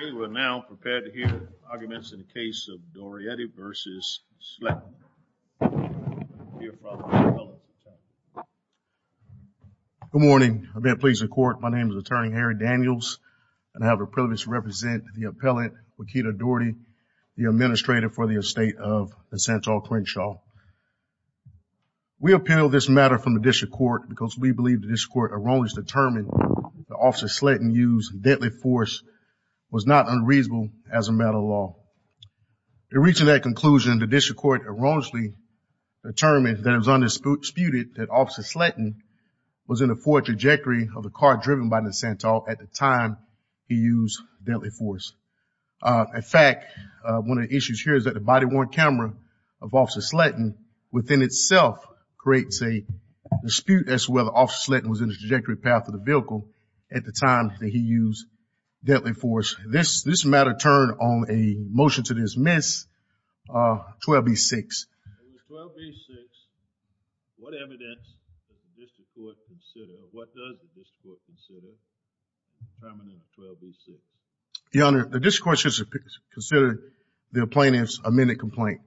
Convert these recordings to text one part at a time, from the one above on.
We are now prepared to hear arguments in the case of Doriety v. Sletten. Good morning. I beg your pleas in court. My name is Attorney Harry Daniels. I have the privilege to represent the appellant, Wakita Doriety, the Administrator for the Estate of Santal Crenshaw. We appeal this matter from the District Court because we believe the District Court erroneously determined that Officer Sletten used deadly force was not unreasonable as a matter of law. In reaching that conclusion, the District Court erroneously determined that it was undisputed that Officer Sletten was in the forward trajectory of the car driven by the Santal at the time he used deadly force. In fact, one of the issues here is that the body-worn camera of Officer Sletten within itself creates a dispute as to whether Officer Sletten was in the trajectory path of the vehicle at the time that he used deadly force. This matter turned on a motion to dismiss 12b-6. In 12b-6, what evidence does the District Court consider, or what does the District Court consider, determining 12b-6? Your Honor, the District Court should consider the plaintiff's amended complaint.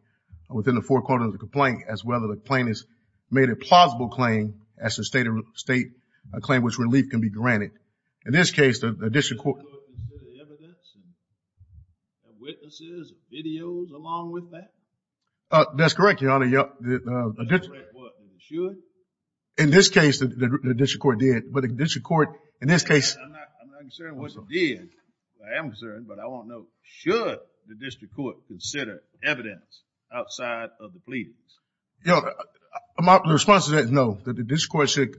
Within the four quarters of the complaint, as well as the plaintiff's made a plausible claim as to a state claim which relief can be granted. In this case, the District Court... Does the District Court consider evidence, witnesses, videos, along with that? That's correct, Your Honor. That's correct, what? In this case, the District Court did. But the District Court, in this case... I'm not concerned what it did. I am concerned, but I want to know, should the District Court consider evidence outside of the pleadings? Your Honor, my response to that is no. The District Court should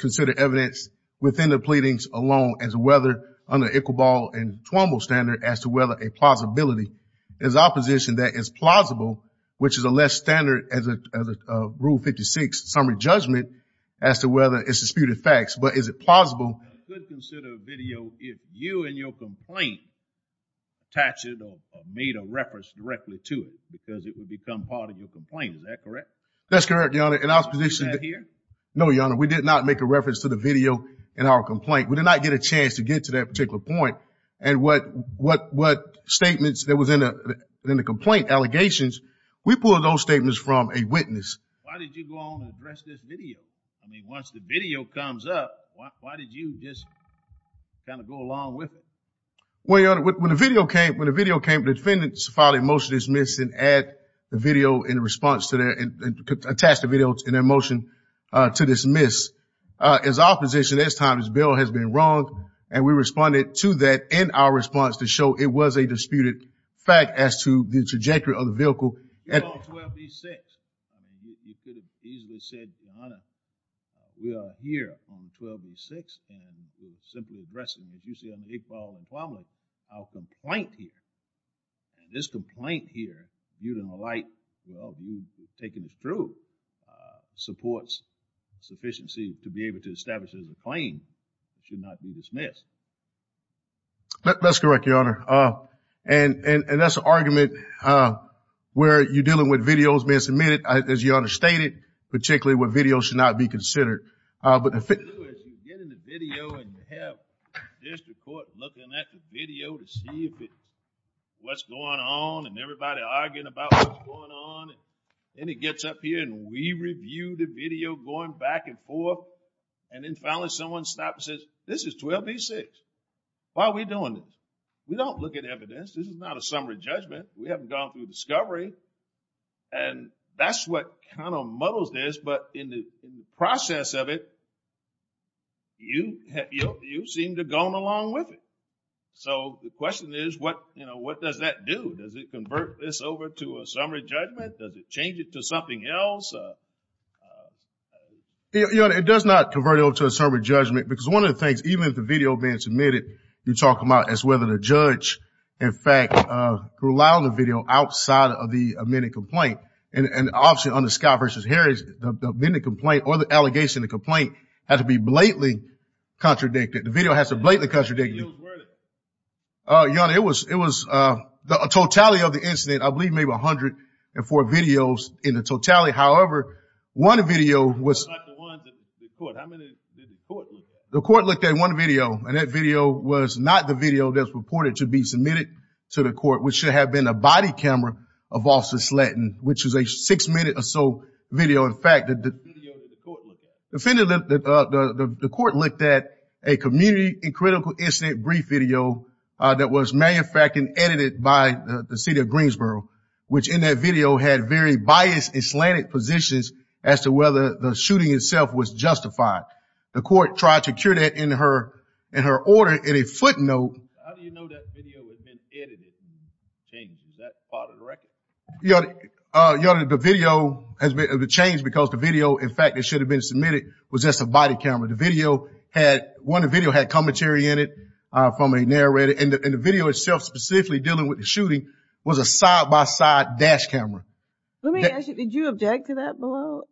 consider evidence within the pleadings alone as to whether, under Iqbal and Tuombo's standard, as to whether a plausibility is opposition that is plausible, which is a less standard as a Rule 56 summary judgment as to whether it's disputed facts. But is it plausible... I could consider a video if you and your complaint attached it or made a reference directly to it because it would become part of your complaint. Is that correct? That's correct, Your Honor. No, Your Honor, we did not make a reference to the video in our complaint. We did not get a chance to get to that particular point. And what statements that was in the complaint, allegations, we pulled those statements from a witness. Why did you go on to address this video? I mean, once the video comes up, why did you just kind of go along with it? Well, Your Honor, when the video came, the defendants filed a motion to dismiss and attach the video in their motion to dismiss. As opposition, this time this bill has been wronged, and we responded to that in our response to show it was a disputed fact as to the trajectory of the vehicle. You're on 12B-6. I mean, you could have easily said, Your Honor, we are here on 12B-6 and we're simply addressing, as you say, on April 11th, our complaint here. And this complaint here, viewed in the light of you taking this through, supports sufficiency to be able to establish it as a claim. It should not be dismissed. That's correct, Your Honor. And that's an argument where you're dealing with videos being submitted, as Your Honor stated, particularly when videos should not be considered. What you do is you get in the video and you have the district court looking at the video to see what's going on and everybody arguing about what's going on. And it gets up here and we review the video going back and forth, and then finally someone stops and says, this is 12B-6. Why are we doing this? We don't look at evidence. This is not a summary judgment. We haven't gone through discovery. And that's what kind of muddles this, but in the process of it, you seem to have gone along with it. So the question is, what does that do? Does it convert this over to a summary judgment? Does it change it to something else? Your Honor, it does not convert it over to a summary judgment because one of the things, even if the video had been submitted, you're talking about is whether the judge, in fact, could allow the video outside of the amended complaint. And obviously on the Scott v. Harris, the amended complaint or the allegation of the complaint had to be blatantly contradicted. The video has to be blatantly contradicted. Your Honor, it was the totality of the incident, I believe maybe 104 videos in the totality. However, one video was the court looked at one video, and that video was not the video that was reported to be submitted to the court, which should have been a body camera of Officer Slatton, which is a six-minute or so video. In fact, the court looked at a community and critical incident brief video that was manufactured and edited by the city of Greensboro, which in that video had very biased and slanted positions as to whether the shooting itself was justified. The court tried to cure that in her order in a footnote. How do you know that video has been edited and changed? Is that part of the record? Your Honor, the video has been changed because the video, in fact, that should have been submitted was just a body camera. The video had commentary in it from a narrator, and the video itself specifically dealing with the shooting was a side-by-side dash camera. Let me ask you, did you object to that below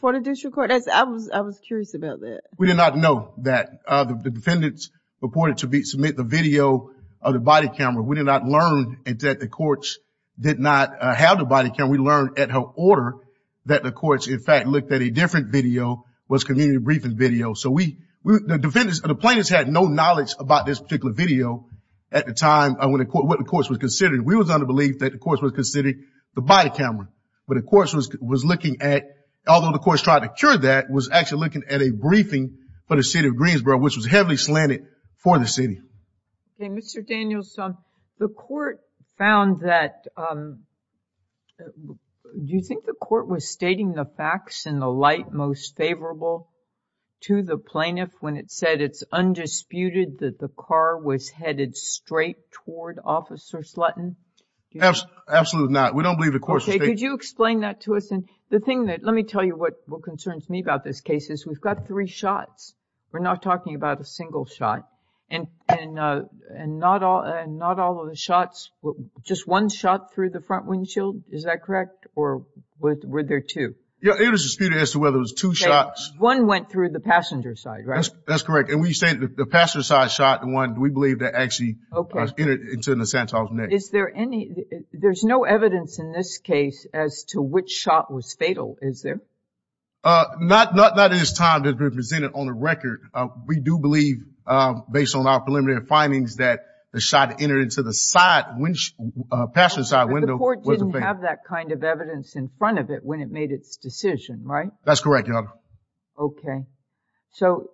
for the district court? I was curious about that. We did not know that the defendants reported to submit the video of the body camera. We did not learn that the courts did not have the body camera. We learned at her order that the courts, in fact, looked at a different video, was community briefing video. So the defendants and the plaintiffs had no knowledge about this particular video at the time when the court was considered. We was under the belief that the courts were considering the body camera. But the courts was looking at, although the courts tried to cure that, was actually looking at a briefing for the city of Greensboro, which was heavily slanted for the city. Mr. Daniels, the court found that, do you think the court was stating the facts in the light most favorable to the plaintiff when it said it's undisputed that the car was headed straight toward Officer Slutton? Absolutely not. We don't believe the courts were stating that. Could you explain that to us? The thing that, let me tell you what concerns me about this case is we've got three shots. We're not talking about a single shot. And not all of the shots, just one shot through the front windshield, is that correct? Or were there two? Yeah, it was disputed as to whether it was two shots. One went through the passenger side, right? That's correct. And when you say the passenger side shot, the one we believe that actually entered into the Santa's neck. Is there any, there's no evidence in this case as to which shot was fatal, is there? Not that it is time to present it on the record. We do believe, based on our preliminary findings, that the shot entered into the passenger side window. But the court didn't have that kind of evidence in front of it when it made its decision, right? That's correct, Your Honor. Okay. So,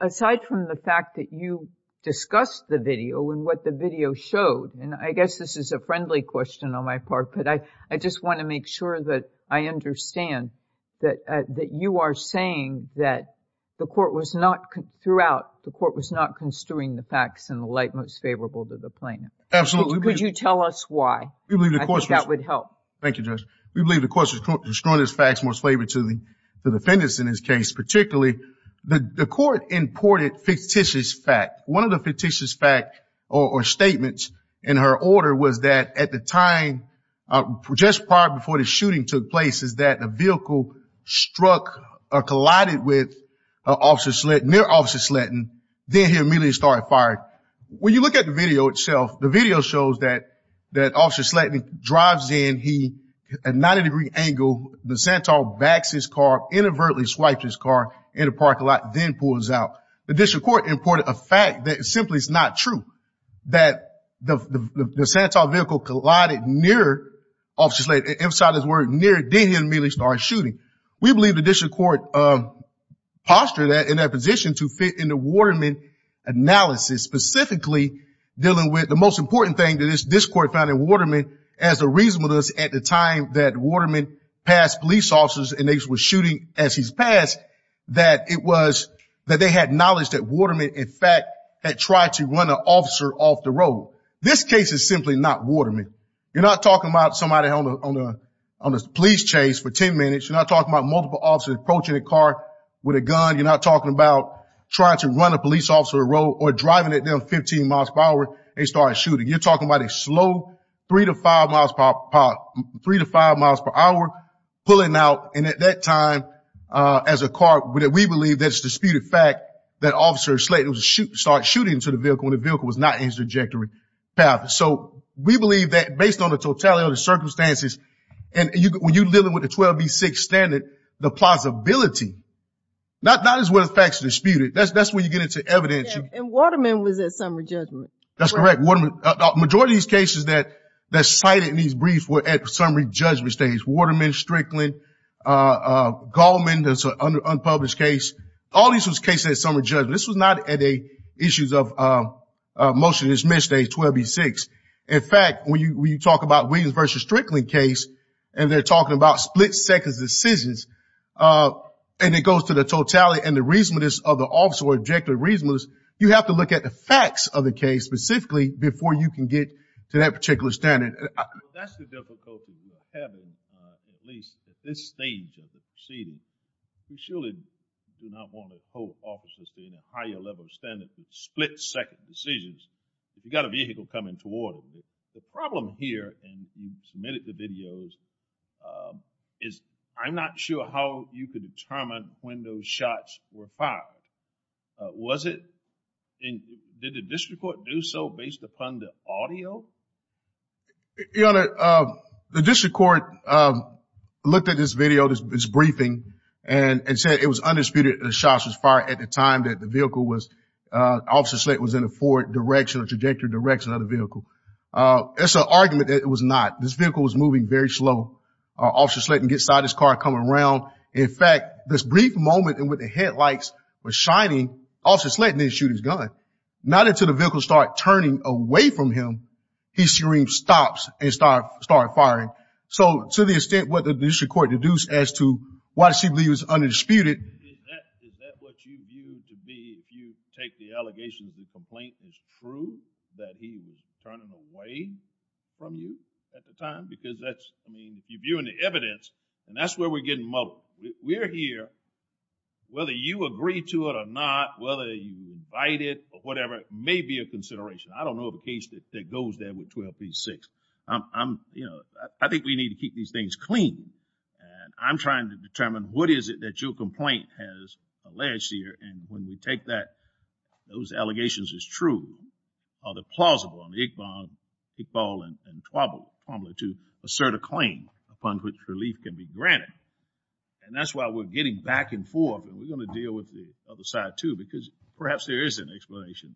aside from the fact that you discussed the video and what the video showed, and I guess this is a friendly question on my part, but I just want to make sure that I understand that you are saying that the court was not, throughout, the court was not construing the facts in the light most favorable to the plaintiff. Absolutely. Would you tell us why? I think that would help. Thank you, Judge. We believe the court was construing its facts most favorable to the defendants in this case. Particularly, the court imported fictitious facts. One of the fictitious facts, or statements, in her order was that at the time, just prior before the shooting took place, is that a vehicle struck or collided with Officer Slatton, near Officer Slatton. Then he immediately started firing. When you look at the video itself, the video shows that Officer Slatton drives in. He, at a 90-degree angle, the Santor backs his car, inadvertently swipes his car in the parking lot, then pulls out. The district court imported a fact that simply is not true, that the Santor vehicle collided near Officer Slatton. It emphasizes the word near. Then he immediately started shooting. We believe the district court postured that in their position to fit in the Waterman analysis, specifically dealing with the most important thing that this court found in Waterman, as the reason with us at the time that Waterman passed police officers and they were shooting as he passed, that it was that they had knowledge that Waterman, in fact, had tried to run an officer off the road. This case is simply not Waterman. You're not talking about somebody on a police chase for 10 minutes. You're not talking about multiple officers approaching a car with a gun. You're not talking about trying to run a police officer off the road or driving at them 15 miles per hour and start shooting. You're talking about a slow three to five miles per hour pulling out. And at that time, as a car, we believe that it's a disputed fact that Officer Slatton started shooting into the vehicle when the vehicle was not in his trajectory path. So we believe that, based on the totality of the circumstances, and when you're dealing with the 12B6 standard, the plausibility, not as whether the fact is disputed. That's when you get into evidence. And Waterman was at summary judgment. That's correct. The majority of these cases that are cited in these briefs were at summary judgment stage. Waterman, Strickland, Goldman, that's an unpublished case, all of these were cases at summary judgment. This was not at issues of motion to dismiss at 12B6. In fact, when you talk about Williams v. Strickland case, and they're talking about split-second decisions, and it goes to the totality and the reasonableness of the officer, or objective reasonableness, you have to look at the facts of the case, specifically, before you can get to that particular standard. That's the difficulty we're having, at least at this stage of the proceeding. We surely do not want to hold officers to any higher level of standard for split-second decisions if you've got a vehicle coming toward them. The problem here, and you've submitted the videos, is I'm not sure how you could determine when those shots were fired. Did the district court do so based upon the audio? Your Honor, the district court looked at this video, this briefing, and said it was undisputed the shots were fired at the time that the vehicle was, Officer Slate was in a forward direction, a trajectory direction of the vehicle. That's an argument that it was not. This vehicle was moving very slow. Officer Slate didn't get inside his car, come around. In fact, this brief moment in which the headlights were shining, Officer Slate didn't shoot his gun. Not until the vehicle started turning away from him, he stopped and started firing. So to the extent what the district court deduced as to why she believes it's undisputed. Is that what you view to be if you take the allegation that the complaint is true, that he was turning away from you at the time? Because that's, I mean, if you're viewing the evidence, and that's where we're getting muddled. We're here, whether you agree to it or not, whether you invite it or whatever, may be a consideration. I don't know of a case that goes there with 12B6. I'm, you know, I think we need to keep these things clean, and I'm trying to determine what is it that your complaint has alleged here, and when we take that those allegations as true, are they plausible? I mean, Iqbal and Twombly, too, assert a claim upon which relief can be granted. And that's why we're getting back and forth, and we're going to deal with the other side, too, because perhaps there is an explanation.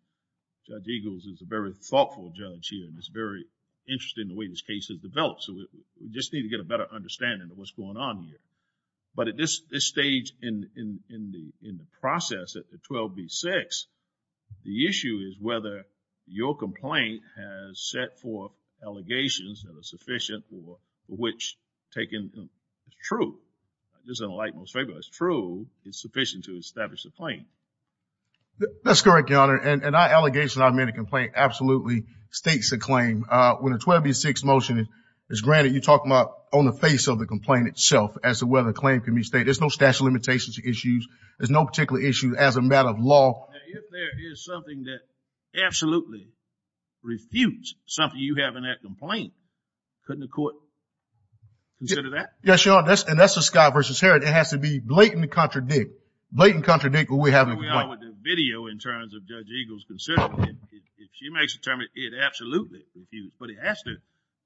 Judge Eagles is a very thoughtful judge here, and is very interested in the way this case has developed. So we just need to get a better understanding of what's going on here. But at this stage in the process at the 12B6, the issue is whether your complaint has set forth allegations that are sufficient or which taken as true. This is a light most favorable. It's true. It's sufficient to establish a claim. That's correct, Your Honor, and that allegation I made a complaint absolutely states a claim. When a 12B6 motion is granted, you talk about on the face of the complaint itself as to whether a claim can be stated. There's no statute of limitations to issues. There's no particular issue as a matter of law. Now, if there is something that absolutely refutes something you have in that complaint, couldn't the court consider that? Yes, Your Honor, and that's the Scott versus Herod. It has to be blatant and contradict. Blatant and contradict what we have in the complaint. Are we on with the video in terms of Judge Eagles considering it? If she makes a term, it absolutely refutes, but it has to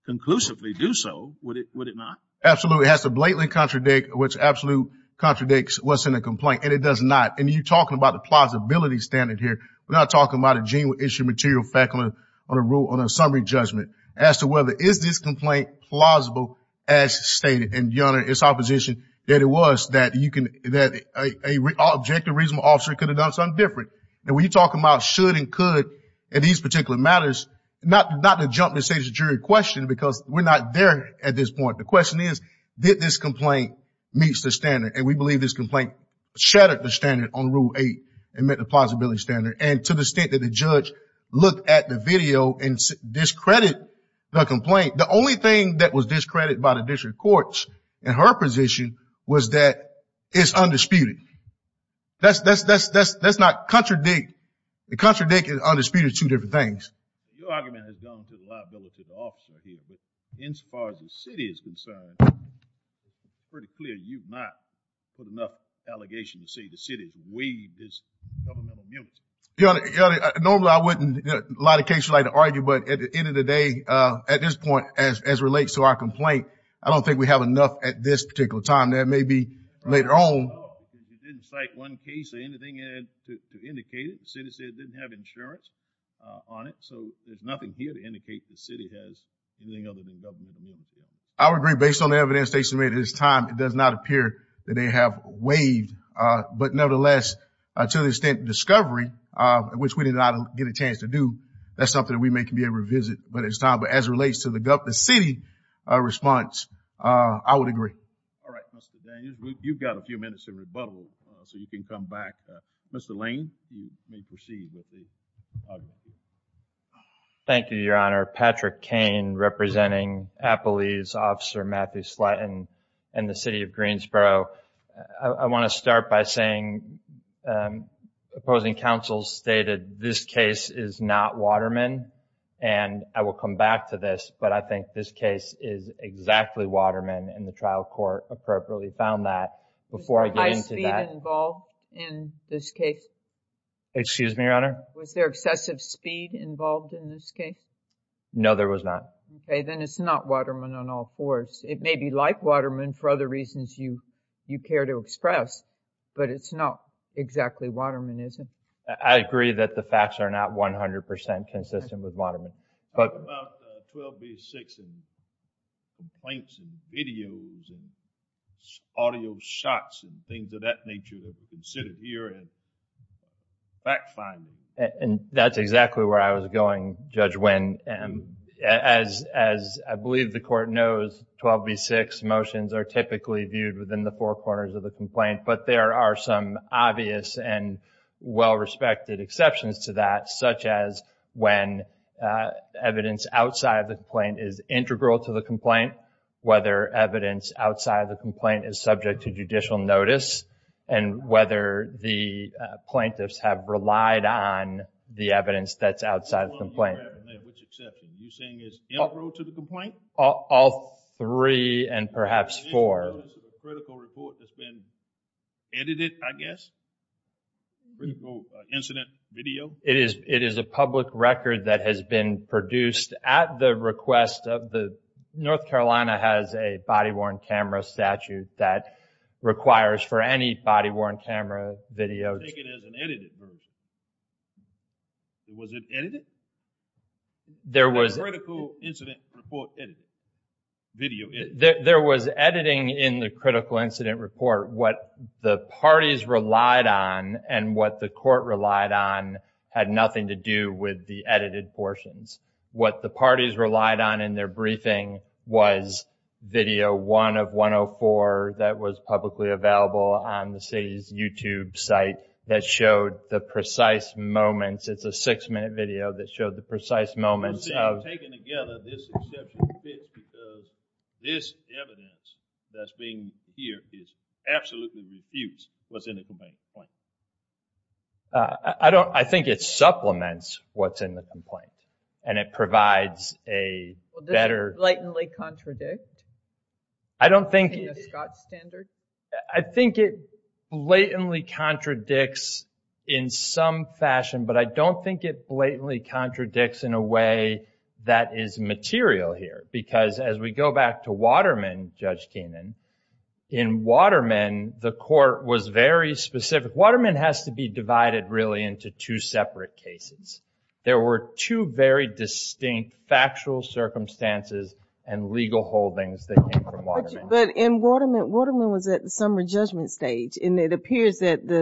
conclusively do so, would it not? Absolutely. It has to blatantly contradict what's absolute contradicts what's in the complaint, and it does not, and you're talking about the plausibility standard here. We're not talking about a gene issue, material faculty on a rule on a summary judgment as to whether, is this complaint plausible as stated? And Your Honor, it's our position that it was that you can, that a objective reasonable officer could have done something different. And when you talk about should and could, and these particular matters, not to jump the state's jury question, because we're not there at this point. The question is, did this complaint meet the standard? And we believe this complaint shattered the standard on Rule 8 and met the plausibility standard. And to the extent that the judge looked at the video and discredited the complaint, the only thing that was discredited by the district courts in her position was that it's undisputed. That's not contradict. Contradict and undisputed are two different things. Your argument has gone to the liability of the officer here. But as far as the city is concerned, it's pretty clear you've not put enough allegation to say the city's waived its governmental immunity. Your Honor, normally I wouldn't, a lot of cases I'd argue, but at the end of the day, at this point, as it relates to our complaint, I don't think we have enough at this particular time. There may be later on. You didn't cite one case or anything to indicate it. The city said it didn't have insurance on it. So there's nothing here to indicate the city has anything other than governmental immunity. I would agree based on the evidence they submitted at this time, it does not appear that they have waived. But nevertheless, to the extent discovery, which we did not get a chance to do, that's something that we may be able to revisit at this time. But as it relates to the city response, I would agree. All right, Mr. Daniels, you've got a few minutes of rebuttal so you can come back. Mr. Lane, you may proceed with the argument. Thank you, Your Honor. Patrick Cain, representing Appalese Officer Matthew Slutton and the city of Greensboro. I want to start by saying opposing counsels stated this case is not Waterman. And I will come back to this, but I think this case is exactly Waterman and the trial court appropriately found that. Was there high speed involved in this case? Excuse me, Your Honor? Was there excessive speed involved in this case? No, there was not. Okay, then it's not Waterman on all fours. It may be like Waterman for other reasons you care to express, but it's not exactly Waterman, is it? I agree that the facts are not 100% consistent with Waterman. What about 12B6 and complaints and videos and audio shots and things of that nature that are considered here as fact-finding? And that's exactly where I was going, Judge Wynn. As I believe the court knows, 12B6 motions are typically viewed within the four corners of the complaint, but there are some obvious and well-respected exceptions to that, such as when evidence outside of the complaint is integral to the complaint, whether evidence outside of the complaint is subject to judicial notice, and whether the plaintiffs have relied on the evidence that's outside of the complaint. Which exception? Are you saying it's integral to the complaint? All three and perhaps four. Critical report that's been edited, I guess? Critical incident video? It is a public record that has been produced at the request of the North Carolina has a body-worn camera statute that requires for any body-worn camera video. Take it as an edited version. Was it edited? There was. Critical incident report edited. Video edited. There was editing in the critical incident report. What the parties relied on and what the court relied on had nothing to do with the edited portions. What the parties relied on in their briefing was video one of 104 that was publicly available on the city's YouTube site that showed the precise moments. It's a six-minute video that showed the precise moments. I'm saying taken together this exception fits because this evidence that's being here is absolutely refused what's in the complaint. I think it supplements what's in the complaint and it provides a better. Does it blatantly contradict in the Scott standard? I think it blatantly contradicts in some fashion but I don't think it blatantly contradicts in a way that is material here because as we go back to Waterman, Judge Keenan, in Waterman the court was very specific. Waterman has to be divided really into two separate cases. There were two very distinct factual circumstances and legal holdings that came from Waterman. In Waterman, Waterman was at the summary judgment stage and it appears that the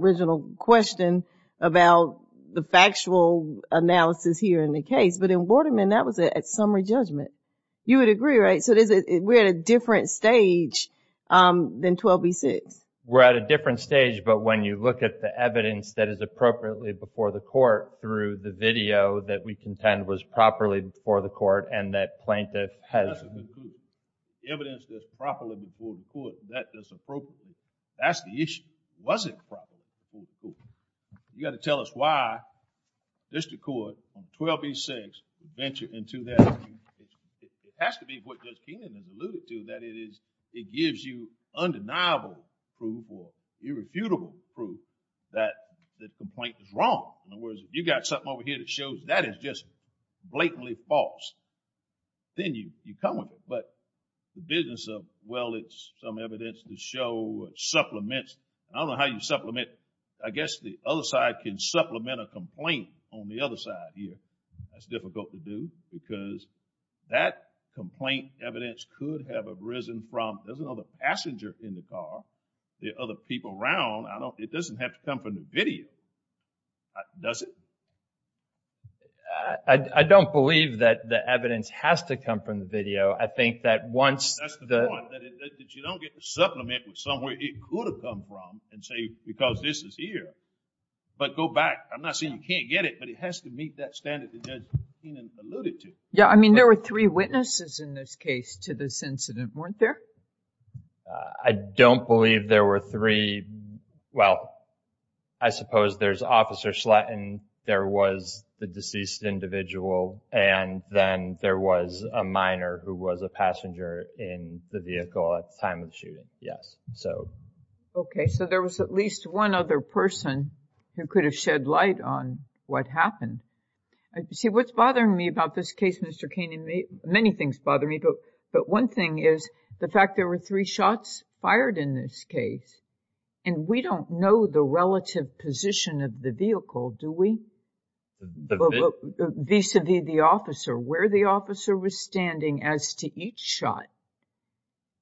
original question about the factual analysis here in the case but in Waterman, that was at summary judgment. You would agree, right? We're at a different stage than 12B6. We're at a different stage but when you look at the evidence that is appropriately before the court through the video that we contend was properly before the court and that plaintiff has... The evidence that's properly before the court, that's appropriate. That's the issue. Was it properly before the court? You got to tell us why district court on 12B6 ventured into that. It has to be what Judge Keenan has alluded to that it gives you undeniable proof or irrefutable proof that the complaint is wrong. In other words, if you got something over here that shows that is just blatantly false, then you come with it. The business of, well, it's some evidence to show supplements. I don't know how you supplement. I guess the other side can supplement a complaint on the other side here. That's difficult to do because that complaint evidence could have arisen from there's another passenger in the car. There are other people around. It doesn't have to come from the video, does it? I don't believe that the evidence has to come from the video. I think that once... That's the point. That you don't get to supplement with somewhere it could have come from and say, because this is here, but go back. I'm not saying you can't get it, but it has to meet that standard that Judge Keenan alluded to. There were three witnesses in this case to this incident, weren't there? I don't believe there were three. Well, I suppose there's Officer Slatton, there was the deceased individual, and then there was a minor who was a passenger in the vehicle at the time of the shooting, yes. Okay, so there was at least one other person who could have shed light on what happened. See, what's bothering me about this case, Mr. Keenan, many things bother me, but one thing is the fact there were three shots fired in this case, and we don't know the relative position of the vehicle, do we? Vis-à-vis the officer, where the officer was standing as to each shot.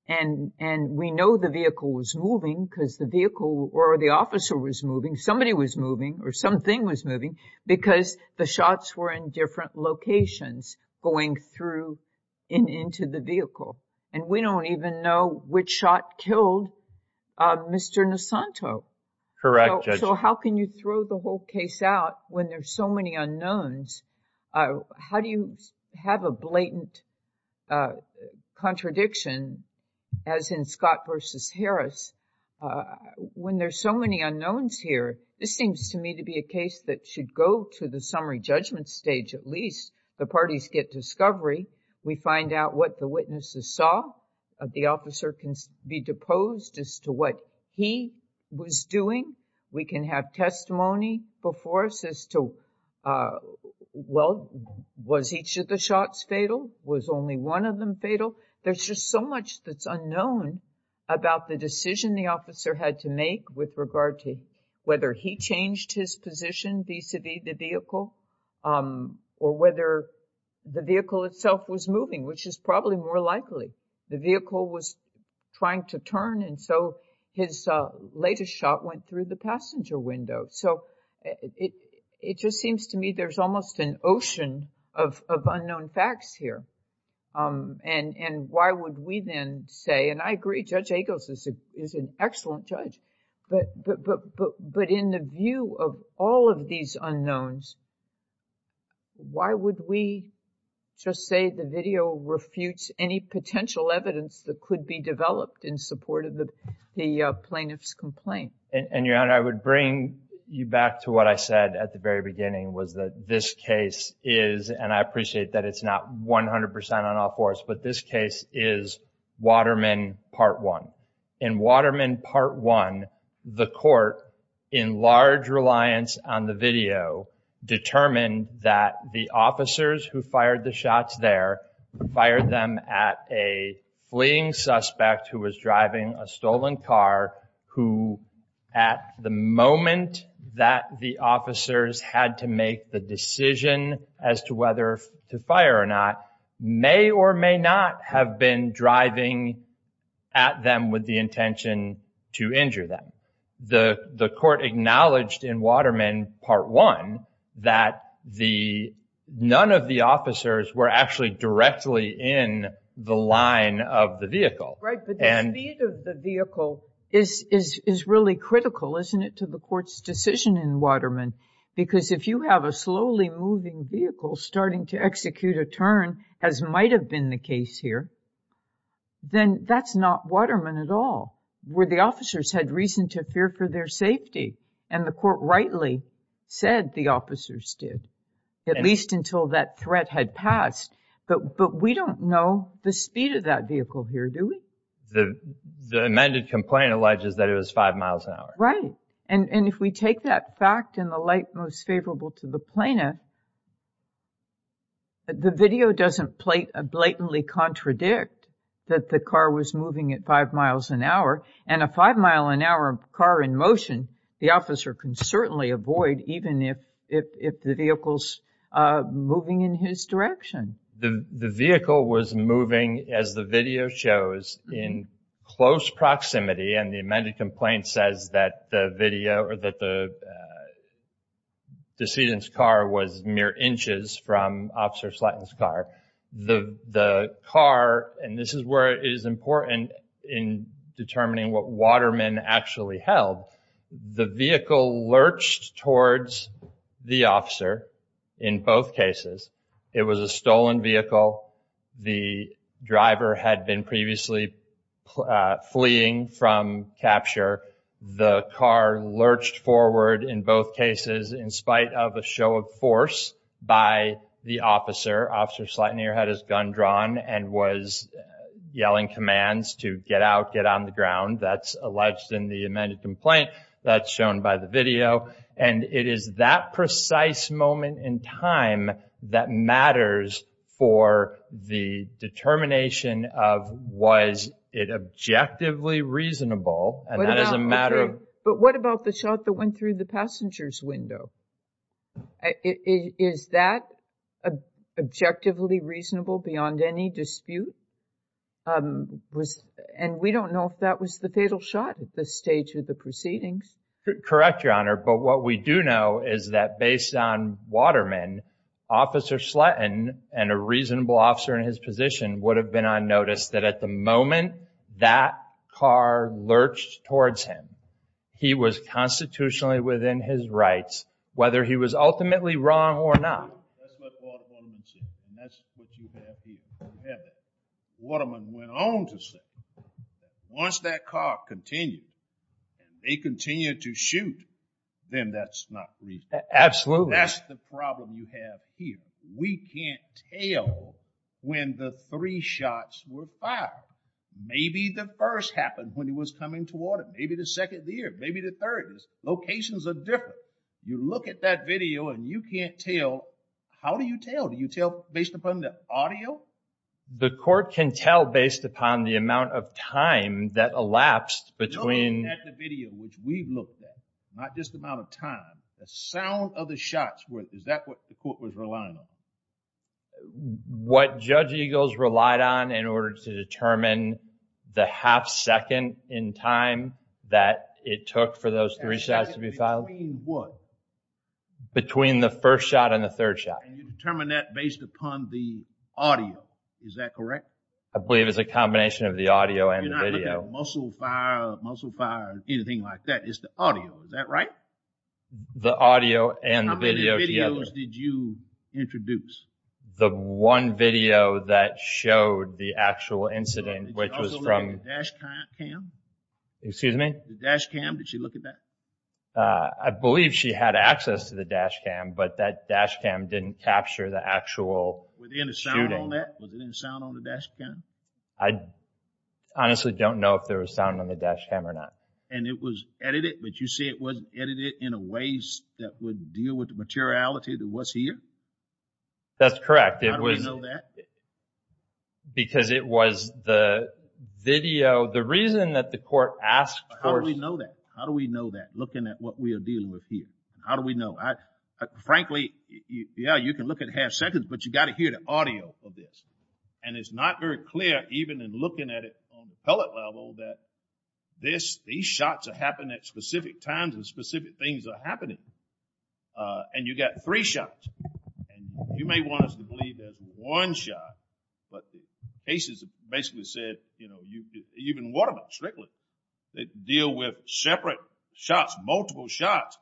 And we know the vehicle was moving because the vehicle or the officer was moving, somebody was moving or something was moving because the shots were in different locations going through and into the vehicle. And we don't even know which shot killed Mr. Nisanto. Correct, Judge. So how can you throw the whole case out when there's so many unknowns? How do you have a blatant contradiction, as in Scott versus Harris, when there's so many unknowns here? This seems to me to be a case that should go to the summary judgment stage at least. The parties get discovery. We find out what the witnesses saw. The officer can be deposed as to what he was doing. We can have testimony before us as to, well, was each of the shots fatal? Was only one of them fatal? There's just so much that's unknown about the decision the officer had to make with regard to whether he changed his position vis-à-vis the vehicle or whether the vehicle itself was moving, which is probably more likely. The vehicle was trying to turn, and so his latest shot went through the passenger window. So it just seems to me there's almost an ocean of unknown facts here. And why would we then say, and I agree, Judge Agos is an excellent judge, but in the view of all of these unknowns, why would we just say the video refutes any potential evidence that could be developed in support of the plaintiff's complaint? And, Your Honor, I would bring you back to what I said at the very beginning was that this case is, and I appreciate that it's not 100% on all fours, but this case is Waterman Part 1. In Waterman Part 1, the court, in large reliance on the video, determined that the officers who fired the shots there fired them at a fleeing suspect who was driving a stolen car who, at the moment that the officers had to make the decision as to whether to fire or not, may or may not have been driving at them with the intention to injure them. The court acknowledged in Waterman Part 1 that none of the officers were actually directly in the line of the vehicle. Right, but the speed of the vehicle is really critical, isn't it, to the court's decision in Waterman? Because if you have a slowly moving vehicle starting to execute a turn, as might have been the case here, then that's not Waterman at all. The officers had reason to fear for their safety, and the court rightly said the officers did, at least until that threat had passed. But we don't know the speed of that vehicle here, do we? The amended complaint alleges that it was five miles an hour. Right, and if we take that fact in the light most favorable to the plaintiff, the video doesn't blatantly contradict that the car was moving at five miles an hour, and a five-mile-an-hour car in motion, the officer can certainly avoid, even if the vehicle's moving in his direction. The vehicle was moving, as the video shows, in close proximity, and the amended complaint says that the video, or that the decedent's car was mere inches from Officer Slatton's car. The car, and this is where it is important in determining what Waterman actually held, the vehicle lurched towards the officer in both cases. It was a stolen vehicle. The driver had been previously fleeing from capture. The car lurched forward in both cases in spite of a show of force by the officer, where Officer Slatton here had his gun drawn and was yelling commands to get out, get on the ground. That's alleged in the amended complaint. That's shown by the video, and it is that precise moment in time that matters for the determination of was it objectively reasonable, and that is a matter of- But what about the shot that went through the passenger's window? Is that objectively reasonable beyond any dispute? And we don't know if that was the fatal shot at this stage of the proceedings. Correct, Your Honor, but what we do know is that based on Waterman, Officer Slatton and a reasonable officer in his position would have been on notice that at the moment that car lurched towards him, he was constitutionally within his rights, whether he was ultimately wrong or not. That's what Waterman said, and that's what you have here. You have that. Waterman went on to say that once that car continued, and they continued to shoot, then that's not reasonable. Absolutely. That's the problem you have here. We can't tell when the three shots were fired. Maybe the first happened when he was coming toward him. Maybe the second there. Maybe the third. Locations are different. You look at that video, and you can't tell. How do you tell? Do you tell based upon the audio? The court can tell based upon the amount of time that elapsed between- Look at the video, which we've looked at, not just the amount of time, the sound of the shots. Is that what the court was relying on? What Judge Eagles relied on in order to determine the half second in time that it took for those three shots to be fired? Between what? Between the first shot and the third shot. You determine that based upon the audio. Is that correct? I believe it's a combination of the audio and the video. You're not looking at muscle fire, muscle fire, anything like that. It's the audio. Is that right? The audio and the video together. Which videos did you introduce? The one video that showed the actual incident, which was from- Did you also look at the dash cam? Excuse me? The dash cam, did you look at that? I believe she had access to the dash cam, but that dash cam didn't capture the actual shooting. Was there any sound on that? Was there any sound on the dash cam? I honestly don't know if there was sound on the dash cam or not. It was edited, but you say it wasn't edited in a way that would deal with the materiality that was here? That's correct. How do we know that? Because it was the video. The reason that the court asked for- How do we know that? How do we know that, looking at what we are dealing with here? How do we know? Frankly, yeah, you can look at half seconds, but you've got to hear the audio of this. And it's not very clear, even in looking at it on the pellet level, that these shots are happening at specific times and specific things are happening. And you've got three shots. And you may want us to believe there's one shot, but the cases basically said, you know, even Waterman strictly, they deal with separate shots, multiple shots,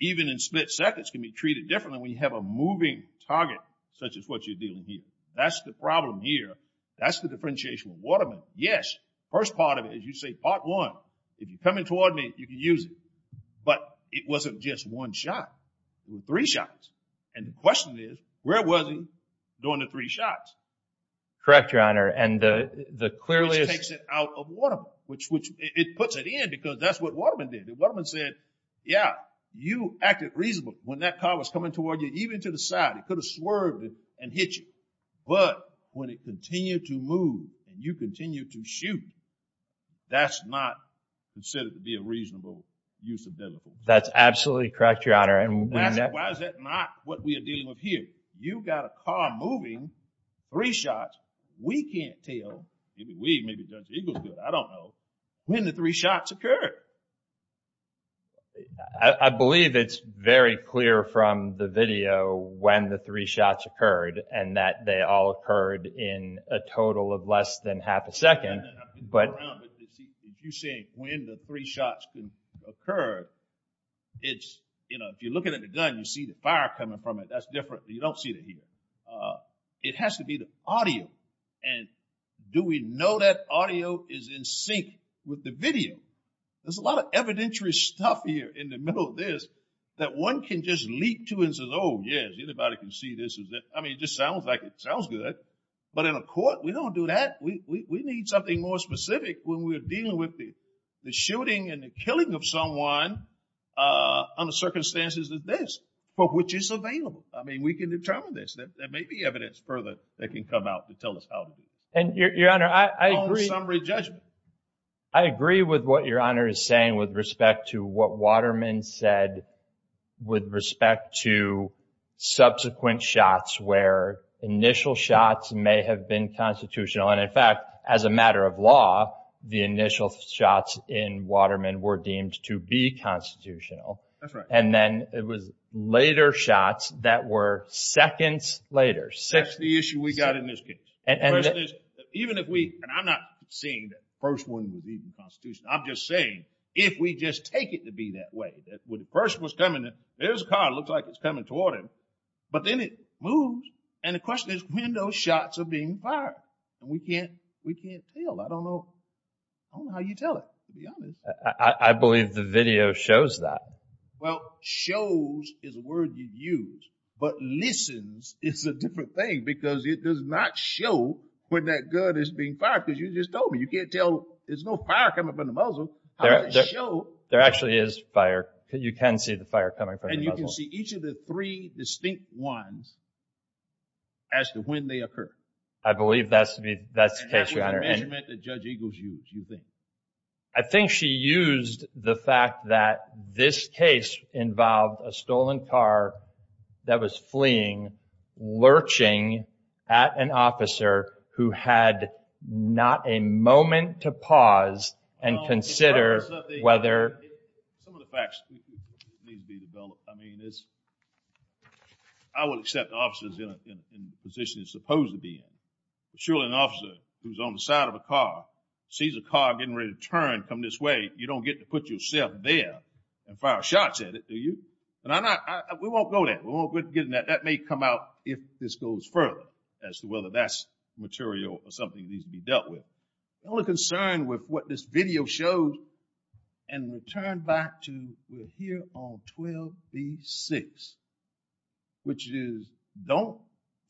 even in split seconds can be treated differently when you have a moving target such as what you're dealing with here. That's the problem here. That's the differentiation with Waterman. Yes, the first part of it, as you say, part one, if you're coming toward me, you can use it. But it wasn't just one shot. It was three shots. And the question is, where was he during the three shots? Correct, Your Honor. And the clearest- Which takes it out of Waterman. It puts it in because that's what Waterman did. Waterman said, yeah, you acted reasonably when that car was coming toward you, even to the side. It could have swerved and hit you. But when it continued to move and you continued to shoot, that's not considered to be a reasonable use of delicacy. That's absolutely correct, Your Honor. Why is that not what we are dealing with here? You've got a car moving, three shots. We can't tell. Maybe we, maybe Judge Eagle could. I don't know. When the three shots occurred. I believe it's very clear from the video when the three shots occurred and that they all occurred in a total of less than half a second. You're saying when the three shots occurred, it's, you know, if you're looking at the gun, you see the fire coming from it. That's different. You don't see it here. It has to be the audio. And do we know that audio is in sync with the video? There's a lot of evidentiary stuff here in the middle of this that one can just leap to and say, oh, yes, anybody can see this. I mean, it just sounds like it sounds good. But in a court, we don't do that. We need something more specific when we're dealing with the shooting and the killing of someone under circumstances like this, for which it's available. I mean, we can determine this. There may be evidence further that can come out to tell us how to do it. And, Your Honor, I agree. Summary judgment. I agree with what Your Honor is saying with respect to what Waterman said with respect to subsequent shots where initial shots may have been constitutional. And, in fact, as a matter of law, the initial shots in Waterman were deemed to be constitutional. That's right. And then it was later shots that were seconds later. That's the issue we got in this case. And the question is, even if we, and I'm not saying that the first one was even constitutional, I'm just saying if we just take it to be that way, that when the person was coming, there's a car. It looks like it's coming toward him. But then it moves. And the question is when those shots are being fired. And we can't tell. I don't know how you tell it, to be honest. I believe the video shows that. Well, shows is a word you use. But listens is a different thing because it does not show when that gun is being fired because you just told me. You can't tell. There's no fire coming from the muzzle. There actually is fire. You can see the fire coming from the muzzle. And you can see each of the three distinct ones as to when they occur. I believe that's the case, Your Honor. And that was a measurement that Judge Eagles used, you think? I think she used the fact that this case involved a stolen car that was fleeing, lurching at an officer who had not a moment to pause and consider whether. Some of the facts need to be developed. I mean, I would accept the officer is in the position he's supposed to be in. But surely an officer who's on the side of a car, sees a car getting ready to turn, come this way, you don't get to put yourself there and fire shots at it, do you? We won't go there. We won't get in that. That may come out if this goes further as to whether that's material or something that needs to be dealt with. The only concern with what this video shows, and we'll turn back to, we're here on 12B-6, which is don't,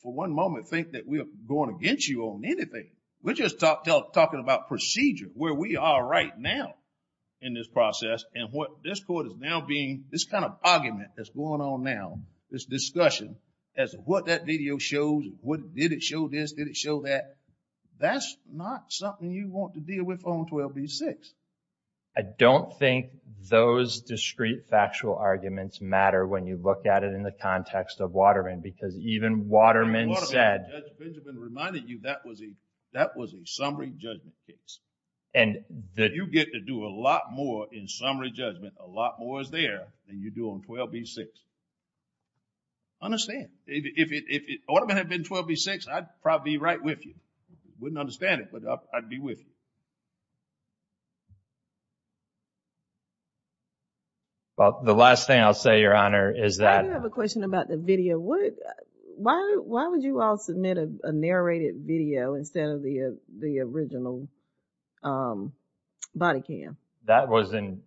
for one moment, think that we're going against you on anything. We're just talking about procedure, where we are right now in this process. And what this court is now being, this kind of argument that's going on now, this discussion as to what that video shows, what did it show this, did it show that. That's not something you want to deal with on 12B-6. I don't think those discrete factual arguments matter when you look at it in the context of Waterman, because even Waterman said... Judge Benjamin reminded you that was a summary judgment case. And the... You get to do a lot more in summary judgment, a lot more is there, than you do on 12B-6. Understand. If Waterman had been 12B-6, I'd probably be right with you. Wouldn't understand it, but I'd be with you. The last thing I'll say, Your Honor, is that... I do have a question about the video. Why would you all submit a narrated video instead of the original body cam? That was an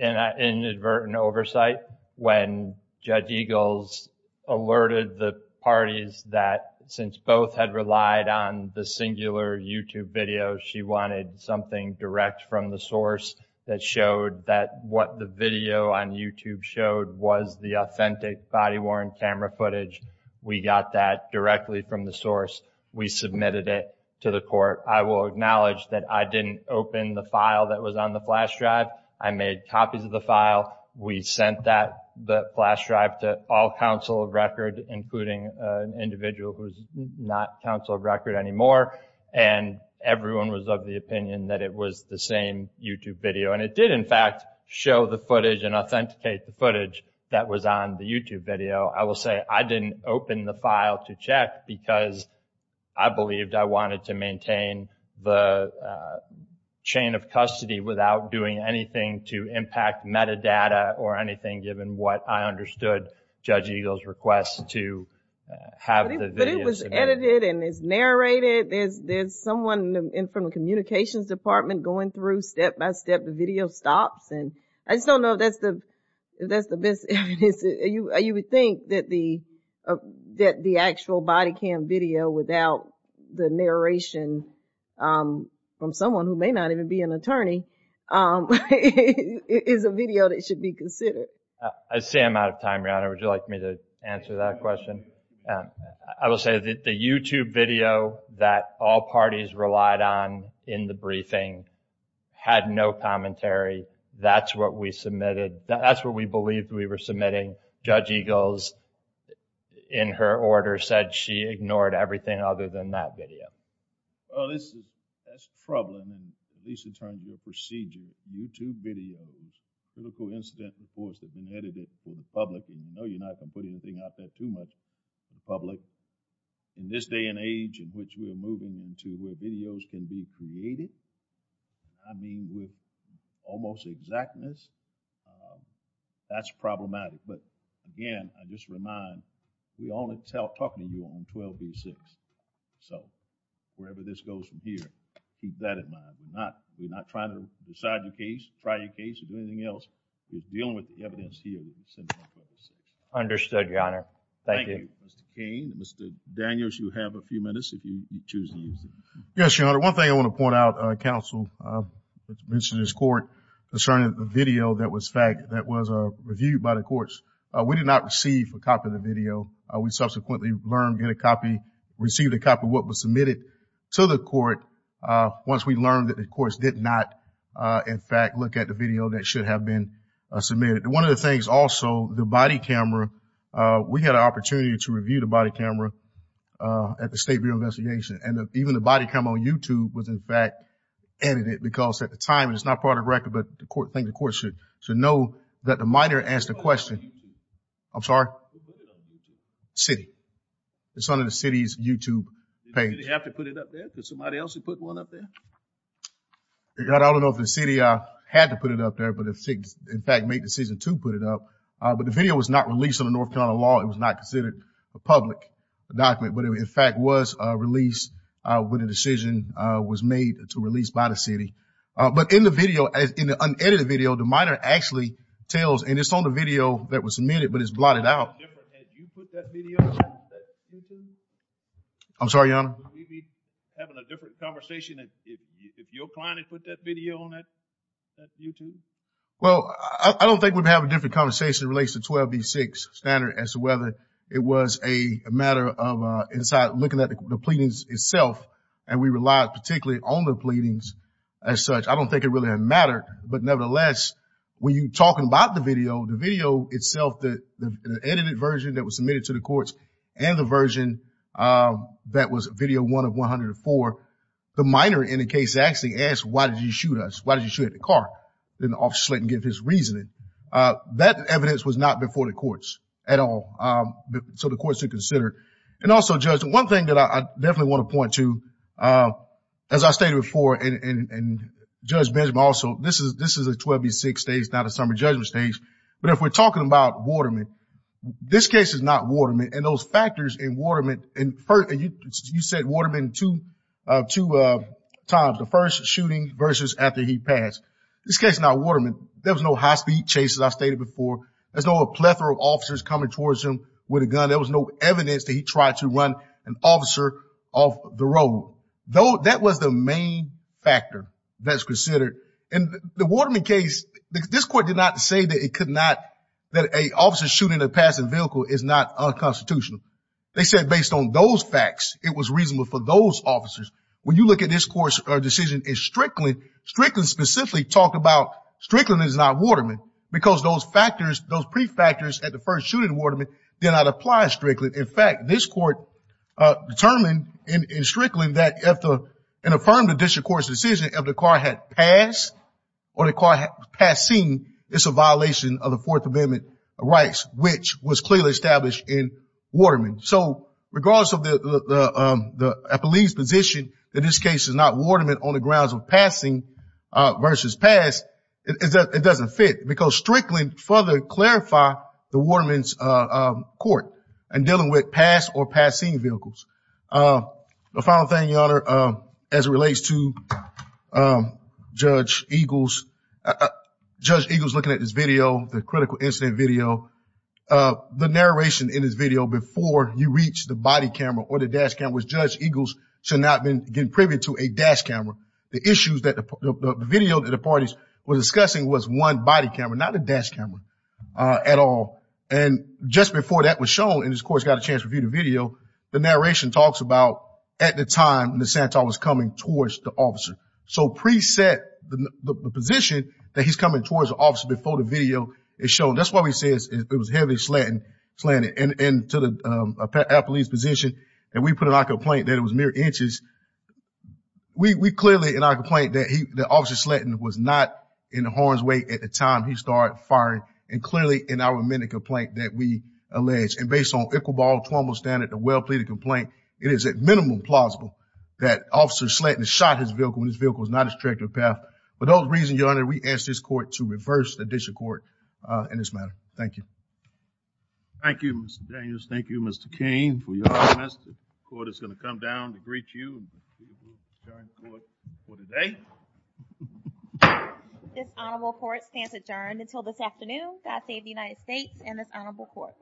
inadvertent oversight when Judge Eagles alerted the parties that since both had relied on the singular YouTube video, she wanted something direct from the source that showed that what the video on YouTube showed was the authentic body-worn camera footage. We got that directly from the source. We submitted it to the court. I will acknowledge that I didn't open the file that was on the flash drive. I made copies of the file. We sent that flash drive to all counsel of record, including an individual who's not counsel of record anymore, and everyone was of the opinion that it was the same YouTube video. And it did, in fact, show the footage and authenticate the footage that was on the YouTube video. I will say I didn't open the file to check because I believed I wanted to maintain the chain of custody without doing anything to impact metadata or anything given what I understood Judge Eagles' request to have the video. But it was edited and it's narrated. There's someone from the communications department going through step-by-step the video stops. I just don't know if that's the best evidence. You would think that the actual body cam video without the narration from someone who may not even be an attorney is a video that should be considered. I see I'm out of time, Your Honor. Would you like me to answer that question? I will say that the YouTube video that all parties relied on in the briefing had no commentary. That's what we submitted. Judge Eagles, in her order, said she ignored everything other than that video. Well, that's troubling, at least in terms of the procedure. YouTube videos, critical incident reports that have been edited for the public, and you know you're not going to put anything out there too much for the public. In this day and age in which we are moving into where videos can be created, I mean with almost exactness, that's problematic. But again, I just remind, we only talk to you on 1236. So wherever this goes from here, keep that in mind. We're not trying to decide your case, try your case, or do anything else. We're dealing with the evidence here. Understood, Your Honor. Thank you. Thank you, Mr. Cain. Mr. Daniels, you have a few minutes if you choose to use it. Yes, Your Honor. One thing I want to point out, counsel, mentioned this court concerning the video that was reviewed by the courts. We did not receive a copy of the video. We subsequently received a copy of what was submitted to the court once we learned that the courts did not, in fact, look at the video that should have been submitted. One of the things also, the body camera, we had an opportunity to review the body camera at the State Bureau of Investigation, and even the body camera on YouTube was, in fact, edited, because at the time it was not part of the record, but I think the court should know that the minor asked a question. I'm sorry? Who put it on YouTube? The city. It's on the city's YouTube page. Did the city have to put it up there? Could somebody else have put one up there? Your Honor, I don't know if the city had to put it up there, but the city, in fact, made the decision to put it up. But the video was not released under North Carolina law. It was not considered a public document. But it, in fact, was released when a decision was made to release by the city. But in the video, in the unedited video, the minor actually tells, and it's on the video that was submitted, but it's blotted out. Had you put that video on that YouTube? I'm sorry, Your Honor? Would we be having a different conversation if your client had put that video on that YouTube? Well, I don't think we'd have a different conversation standard as to whether it was a matter of looking at the pleadings itself, and we relied particularly on the pleadings as such. I don't think it really had mattered. But nevertheless, when you're talking about the video, the video itself, the edited version that was submitted to the courts, and the version that was video one of 104, the minor in the case actually asked, why did you shoot us? Why did you shoot at the car? Then the officer slid and gave his reasoning. That evidence was not before the courts at all, so the courts should consider. And also, Judge, one thing that I definitely want to point to, as I stated before, and Judge Benjamin also, this is a 12 v. 6 stage, not a summer judgment stage, but if we're talking about Waterman, this case is not Waterman, and those factors in Waterman, and you said Waterman two times, the first shooting versus after he passed. This case is not Waterman. There was no high-speed chase, as I stated before. There's no plethora of officers coming towards him with a gun. There was no evidence that he tried to run an officer off the road. That was the main factor that's considered. In the Waterman case, this court did not say that it could not, that an officer shooting a passing vehicle is not unconstitutional. They said based on those facts, it was reasonable for those officers. When you look at this court's decision in Strickland, Strickland specifically talked about Strickland is not Waterman, because those factors, those pre-factors at the first shooting in Waterman, did not apply to Strickland. In fact, this court determined in Strickland that in affirming the district court's decision, if the car had passed or the car had passed scene, it's a violation of the Fourth Amendment rights, which was clearly established in Waterman. So regardless of the police position, that this case is not Waterman on the grounds of passing versus past, it doesn't fit, because Strickland further clarified the Waterman's court in dealing with past or past scene vehicles. The final thing, Your Honor, as it relates to Judge Eagles, Judge Eagles looking at this video, the critical incident video, getting privy to a dash camera, the issues that the video that the parties were discussing was one body camera, not a dash camera at all. And just before that was shown, and this court's got a chance to review the video, the narration talks about at the time that Santor was coming towards the officer. So preset the position that he's coming towards the officer before the video is shown. That's why we say it was heavily slanted. And to the police position, and we put it on complaint that it was mere inches. We clearly in our complaint that he, the officer Slatton was not in the horns way at the time he started firing. And clearly in our amendment complaint that we allege, and based on Equal Borrowed Formal Standard, the well-pleaded complaint, it is at minimum plausible that officer Slatton shot his vehicle when his vehicle was not his trajectory path. For those reasons, Your Honor, we ask this court to reverse the district court in this matter. Thank you. Thank you, Mr. Daniels. Thank you, Mr. Cain. For your honest, the court is going to come down to greet you and adjourn the court for today. This honorable court stands adjourned until this afternoon. God save the United States and this honorable court.